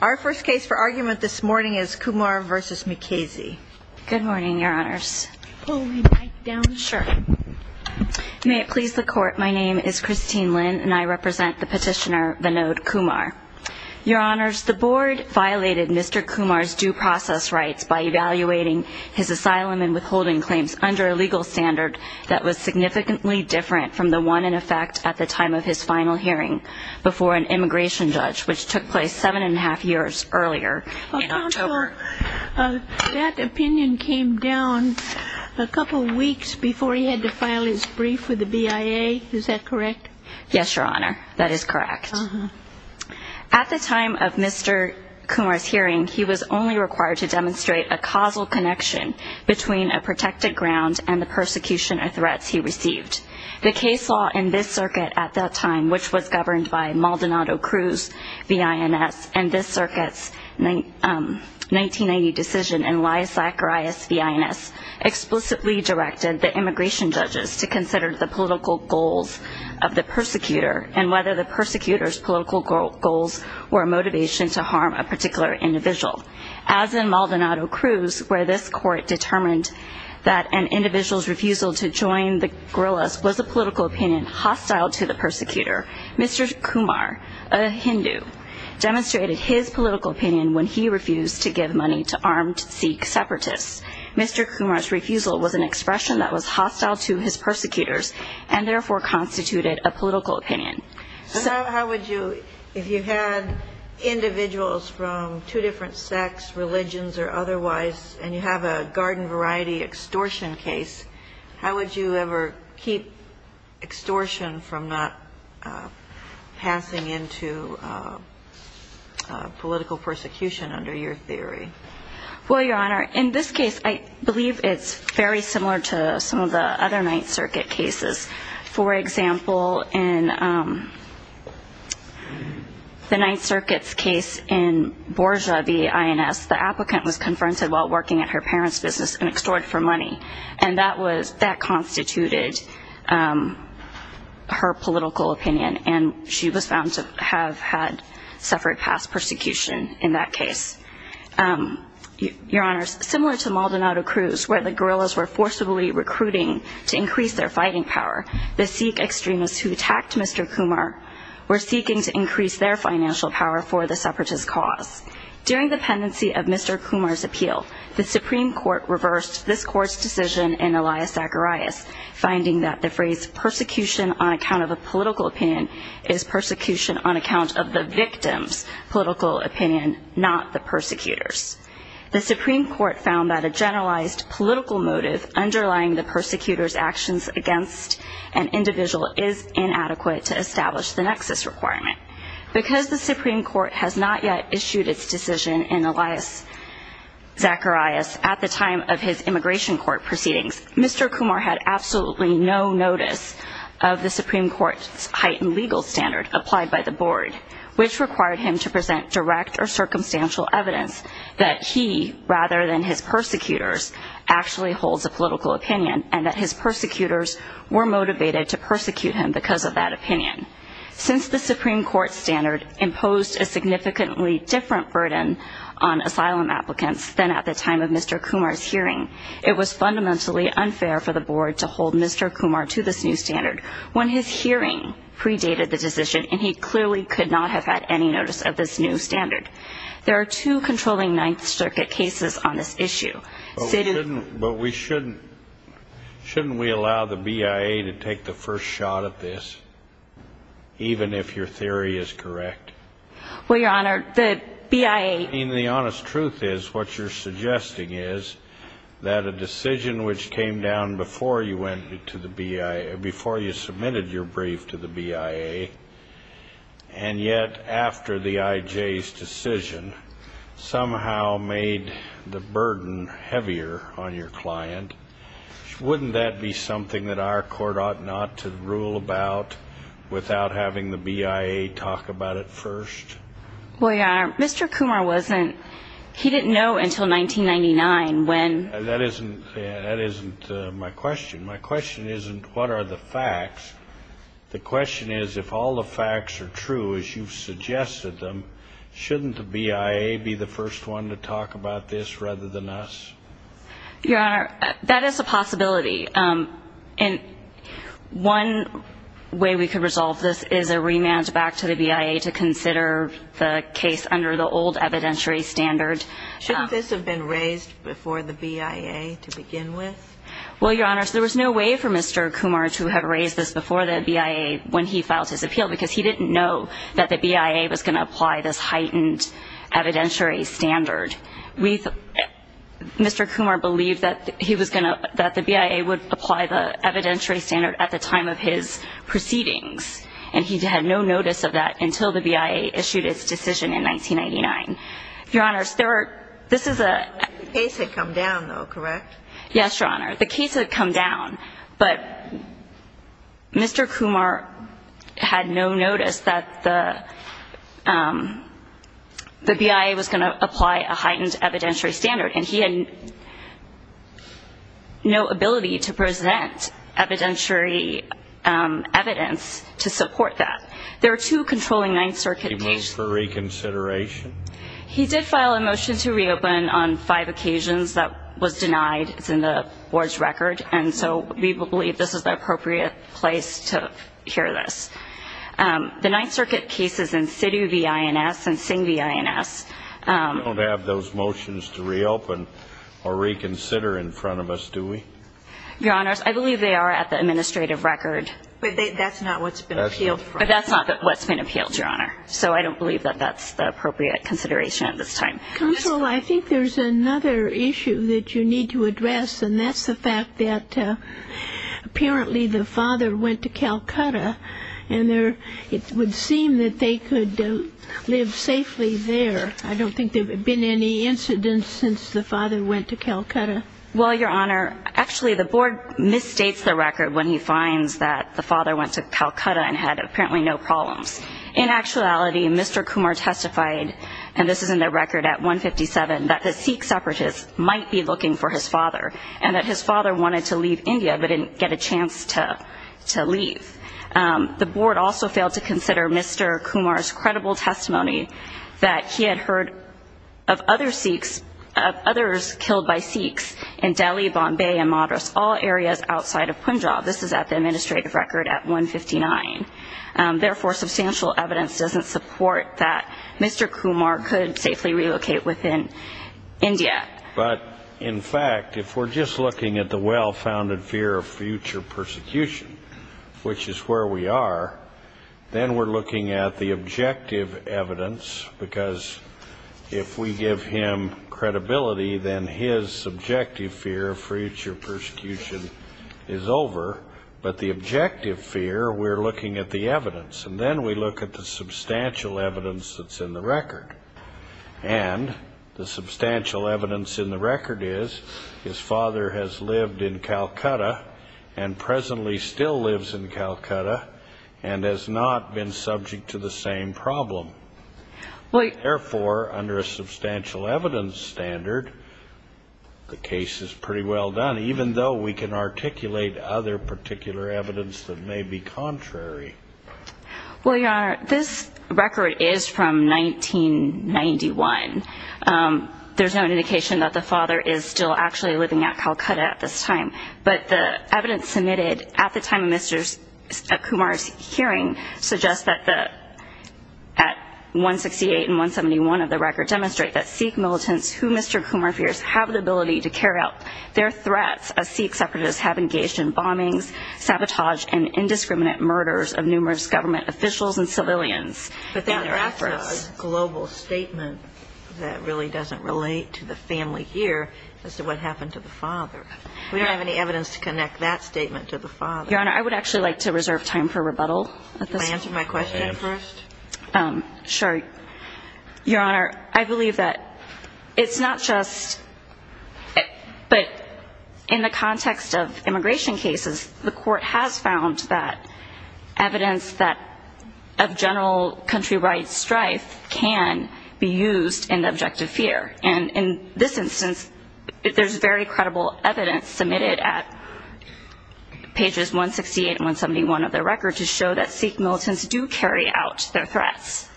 Our first case for argument this morning is Kumar v. McKasey. Good morning, your honors. May it please the court, my name is Christine Lynn and I represent the petitioner Vinod Kumar. Your honors, the board violated Mr. Kumar's due process rights by evaluating his asylum and withholding claims under a legal standard that was significantly different from the one in effect at the time of his final hearing before an immigration judge, which took place seven and a half years earlier in October. That opinion came down a couple weeks before he had to file his brief with the BIA, is that correct? Yes, your honor, that is correct. At the time of Mr. Kumar's hearing, he was only required to demonstrate a causal connection between a protected ground and the persecution and threats he received. The case law in this circuit at that time, which was governed by Maldonado-Cruz v. INS, and this circuit's 1990 decision in Lias-Zacharias v. INS, explicitly directed the immigration judges to consider the political goals of the persecutor and whether the persecutor's political goals were a motivation to harm a particular individual. As in Maldonado-Cruz, where this court determined that an individual's refusal to join the guerrillas was a political opinion hostile to the persecutor, Mr. Kumar, a Hindu, demonstrated his political opinion when he refused to give money to armed Sikh separatists. Mr. Kumar's refusal was an expression that was hostile to his persecutors and therefore constituted a political opinion. So how would you, if you had individuals from two different sects, religions or otherwise, and you have a garden variety extortion case, how would you ever keep extortion from not passing into political persecution under your theory? Well, Your Honor, in this case, I believe it's very similar to some of the other Ninth Circuit cases. For example, in the Ninth Circuit's case in Borja v. INS, the applicant was confronted while working at her parents' business and extorted for money, and that constituted her political opinion, and she was found to have had suffered past persecution in that case. Your Honor, similar to Maldonado-Cruz, where the guerrillas were forcibly recruiting to increase their fighting power, the Sikh extremists who attacked Mr. Kumar were seeking to increase their financial power for the separatist cause. During the pendency of Mr. Kumar's appeal, the Supreme Court reversed this Court's decision in Elias Zacharias, finding that the phrase persecution on account of a political opinion is persecution on account of the victim's political opinion, not the persecutor's. The Supreme Court found that a generalized political motive underlying the persecutor's actions against an individual is inadequate to establish the nexus requirement. Because the Supreme Court has not yet issued its decision in Elias Zacharias at the time of his immigration court proceedings, Mr. Kumar had absolutely no notice of the Supreme Court's heightened legal standard applied by the Board, which required him to present direct or circumstantial evidence that he, rather than his persecutors, actually holds a political opinion and that his persecutors were motivated to persecute him because of that opinion. Since the Supreme Court's standard imposed a significantly different burden on asylum applicants than at the time of Mr. Kumar's hearing, it was fundamentally unfair for the Board to hold Mr. Kumar to this new standard when his hearing predated the decision and he clearly could not have had any notice of this new standard. There are two controlling Ninth Circuit cases on this issue. But shouldn't we allow the BIA to take the first shot at this, even if your theory is correct? Well, Your Honor, the BIA... I mean, the honest truth is what you're suggesting is that a decision which came down before you submitted your brief to the BIA and yet after the IJ's decision somehow made the burden heavier on your client. Wouldn't that be something that our court ought not to rule about without having the BIA talk about it first? Well, Your Honor, Mr. Kumar wasn't... He didn't know until 1999 when... That isn't my question. My question isn't what are the facts. The question is if all the facts are true as you've suggested them, shouldn't the BIA be the first one to talk about this rather than us? Your Honor, that is a possibility. And one way we could resolve this is a remand back to the BIA to consider the case under the old evidentiary standard. Shouldn't this have been raised before the BIA to begin with? Well, Your Honor, there was no way for Mr. Kumar to have raised this before the BIA when he filed his appeal because he didn't know that the BIA was going to apply this heightened evidentiary standard. Mr. Kumar believed that the BIA would apply the evidentiary standard at the time of his proceedings, and he had no notice of that until the BIA issued its decision in 1999. Your Honor, this is a... The case had come down, though, correct? Yes, Your Honor. The case had come down, but Mr. Kumar had no notice that the BIA was going to apply a heightened evidentiary standard, and he had no ability to present evidentiary evidence to support that. There were two controlling Ninth Circuit cases. Did he move for reconsideration? He did file a motion to reopen on five occasions. That was denied. It's in the Board's record, and so we believe this is the appropriate place to hear this. The Ninth Circuit cases in SITU v. INS and SING v. INS... We don't have those motions to reopen or reconsider in front of us, do we? Your Honors, I believe they are at the administrative record. But that's not what's been appealed for. But that's not what's been appealed, Your Honor, so I don't believe that that's the appropriate consideration at this time. Counsel, I think there's another issue that you need to address, and that's the fact that apparently the father went to Calcutta, and it would seem that they could live safely there. I don't think there have been any incidents since the father went to Calcutta. Well, Your Honor, actually the Board misstates the record when he finds that the father went to Calcutta and had apparently no problems. In actuality, Mr. Kumar testified, and this is in the record at 157, that the Sikh separatists might be looking for his father and that his father wanted to leave India but didn't get a chance to leave. The Board also failed to consider Mr. Kumar's credible testimony that he had heard of others killed by Sikhs in Delhi, Bombay, and Madras, all areas outside of Punjab. This is at the administrative record at 159. Therefore, substantial evidence doesn't support that Mr. Kumar could safely relocate within India. But, in fact, if we're just looking at the well-founded fear of future persecution, which is where we are, then we're looking at the objective evidence, because if we give him credibility, then his subjective fear of future persecution is over. But the objective fear, we're looking at the evidence, and then we look at the substantial evidence that's in the record. And the substantial evidence in the record is his father has lived in Calcutta and presently still lives in Calcutta and has not been subject to the same problem. Therefore, under a substantial evidence standard, the case is pretty well done, even though we can articulate other particular evidence that may be contrary. Well, Your Honor, this record is from 1991. There's no indication that the father is still actually living at Calcutta at this time. But the evidence submitted at the time of Mr. Kumar's hearing suggests that 168 and 171 of the record demonstrate that Sikh militants who Mr. Kumar fears have the ability to carry out their threats as Sikh separatists have engaged in bombings, sabotage, and indiscriminate murders of numerous government officials and civilians. But then there after is a global statement that really doesn't relate to the family here as to what happened to the father. We don't have any evidence to connect that statement to the father. Your Honor, I would actually like to reserve time for rebuttal. Do you want to answer my question first? Sure. Your Honor, I believe that it's not just, but in the context of immigration cases, the court has found that evidence of general country rights strife can be used in the objective fear. And in this instance, there's very credible evidence submitted at pages 168 and 171 of the record to show that Sikh militants do carry out their threats.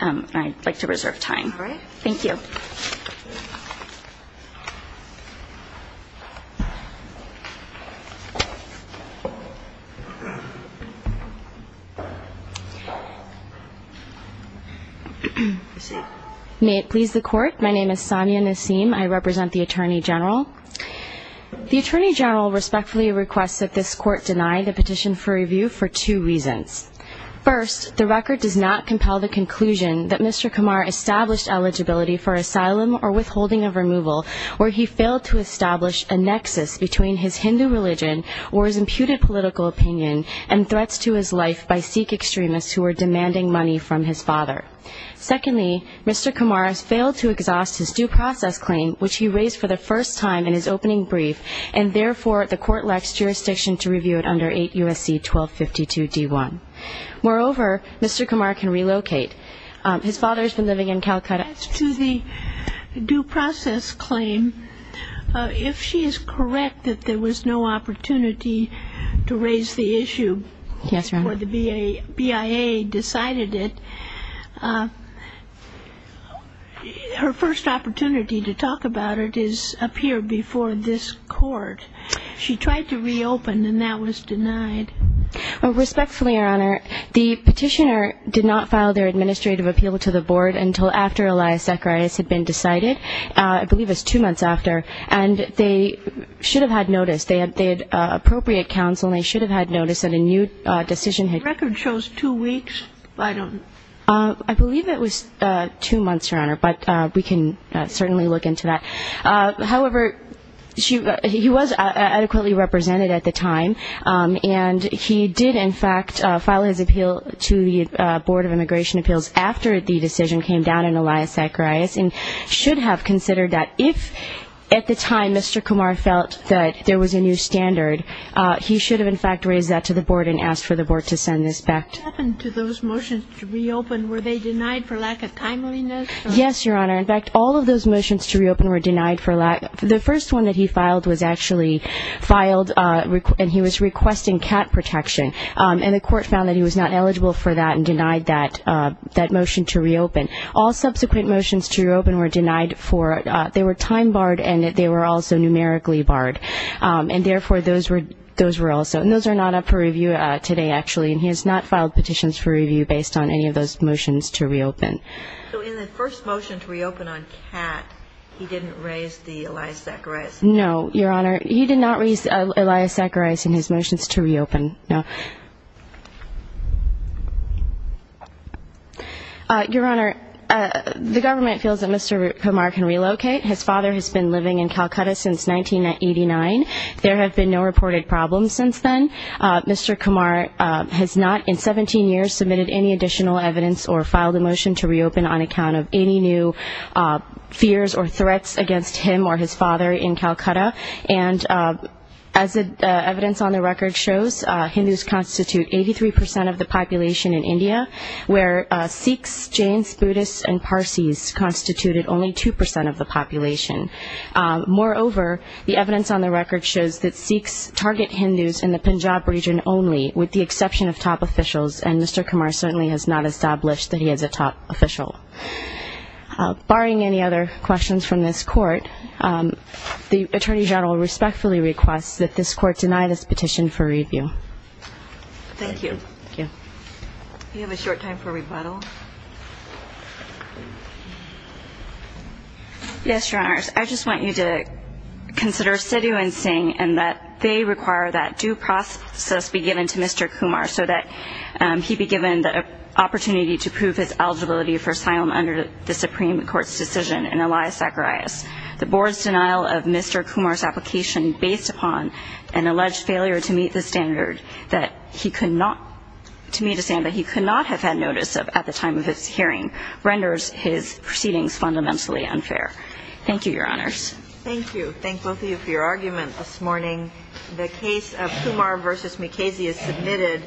I'd like to reserve time. All right. Thank you. May it please the Court, my name is Sonia Nasim. I represent the Attorney General. The Attorney General respectfully requests that this Court deny the petition for review for two reasons. First, the record does not compel the conclusion that Mr. Kumar established eligibility for asylum or withholding of removal where he failed to establish a nexus between his Hindu religion or his imputed political opinion and threats to his life by Sikh extremists who were demanding money from his father. Secondly, Mr. Kumar has failed to exhaust his due process claim, which he raised for the first time in his opening brief, and therefore the Court lacks jurisdiction to review it under 8 U.S.C. 1252-D1. Moreover, Mr. Kumar can relocate. His father has been living in Calcutta. As to the due process claim, if she is correct that there was no opportunity to raise the issue before the BIA decided it, her first opportunity to talk about it is up here before this Court. She tried to reopen and that was denied. Respectfully, Your Honor, the petitioner did not file their administrative appeal to the Board until after Elias Zacharias had been decided, I believe it was two months after, and they should have had notice. They had appropriate counsel and they should have had notice that a new decision had been made. The record shows two weeks. I believe it was two months, Your Honor, but we can certainly look into that. However, he was adequately represented at the time, and he did, in fact, file his appeal to the Board of Immigration Appeals after the decision came down on Elias Zacharias and should have considered that if at the time Mr. Kumar felt that there was a new standard, he should have, in fact, raised that to the Board and asked for the Board to send this back to him. What happened to those motions to reopen? Were they denied for lack of timeliness? Yes, Your Honor. In fact, all of those motions to reopen were denied for lack of, the first one that he filed was actually filed and he was requesting cat protection, and the Court found that he was not eligible for that and denied that motion to reopen. All subsequent motions to reopen were denied for, they were time barred and they were also numerically barred. And therefore, those were also, and those are not up for review today, actually, and he has not filed petitions for review based on any of those motions to reopen. So in the first motion to reopen on cat, he didn't raise the Elias Zacharias? No, Your Honor. He did not raise Elias Zacharias in his motions to reopen, no. Your Honor, the government feels that Mr. Kumar can relocate. His father has been living in Calcutta since 1989. There have been no reported problems since then. Mr. Kumar has not in 17 years submitted any additional evidence or filed a motion to reopen on account of any new fears or threats against him or his father in Calcutta. And as the evidence on the record shows, Hindus constitute 83 percent of the population in India, where Sikhs, Jains, Buddhists, and Parsis constituted only 2 percent of the population. Moreover, the evidence on the record shows that Sikhs target Hindus in the Punjab region only, with the exception of top officials, and Mr. Kumar certainly has not established that he is a top official. Barring any other questions from this Court, the Attorney General respectfully requests that this Court deny this petition for review. Thank you. We have a short time for rebuttal. Yes, Your Honors. I just want you to consider Sidhu and Singh, and that they require that due process be given to Mr. Kumar so that he be given the opportunity to prove his eligibility for asylum under the Supreme Court's decision in Elias Zacharias. The Board's denial of Mr. Kumar's application, based upon an alleged failure to meet a standard that he could not have had notice of at the time of his hearing, renders his proceedings fundamentally unfair. Thank you, Your Honors. Thank you. Thank both of you for your argument this morning. The case of Kumar v. Mukasey is submitted.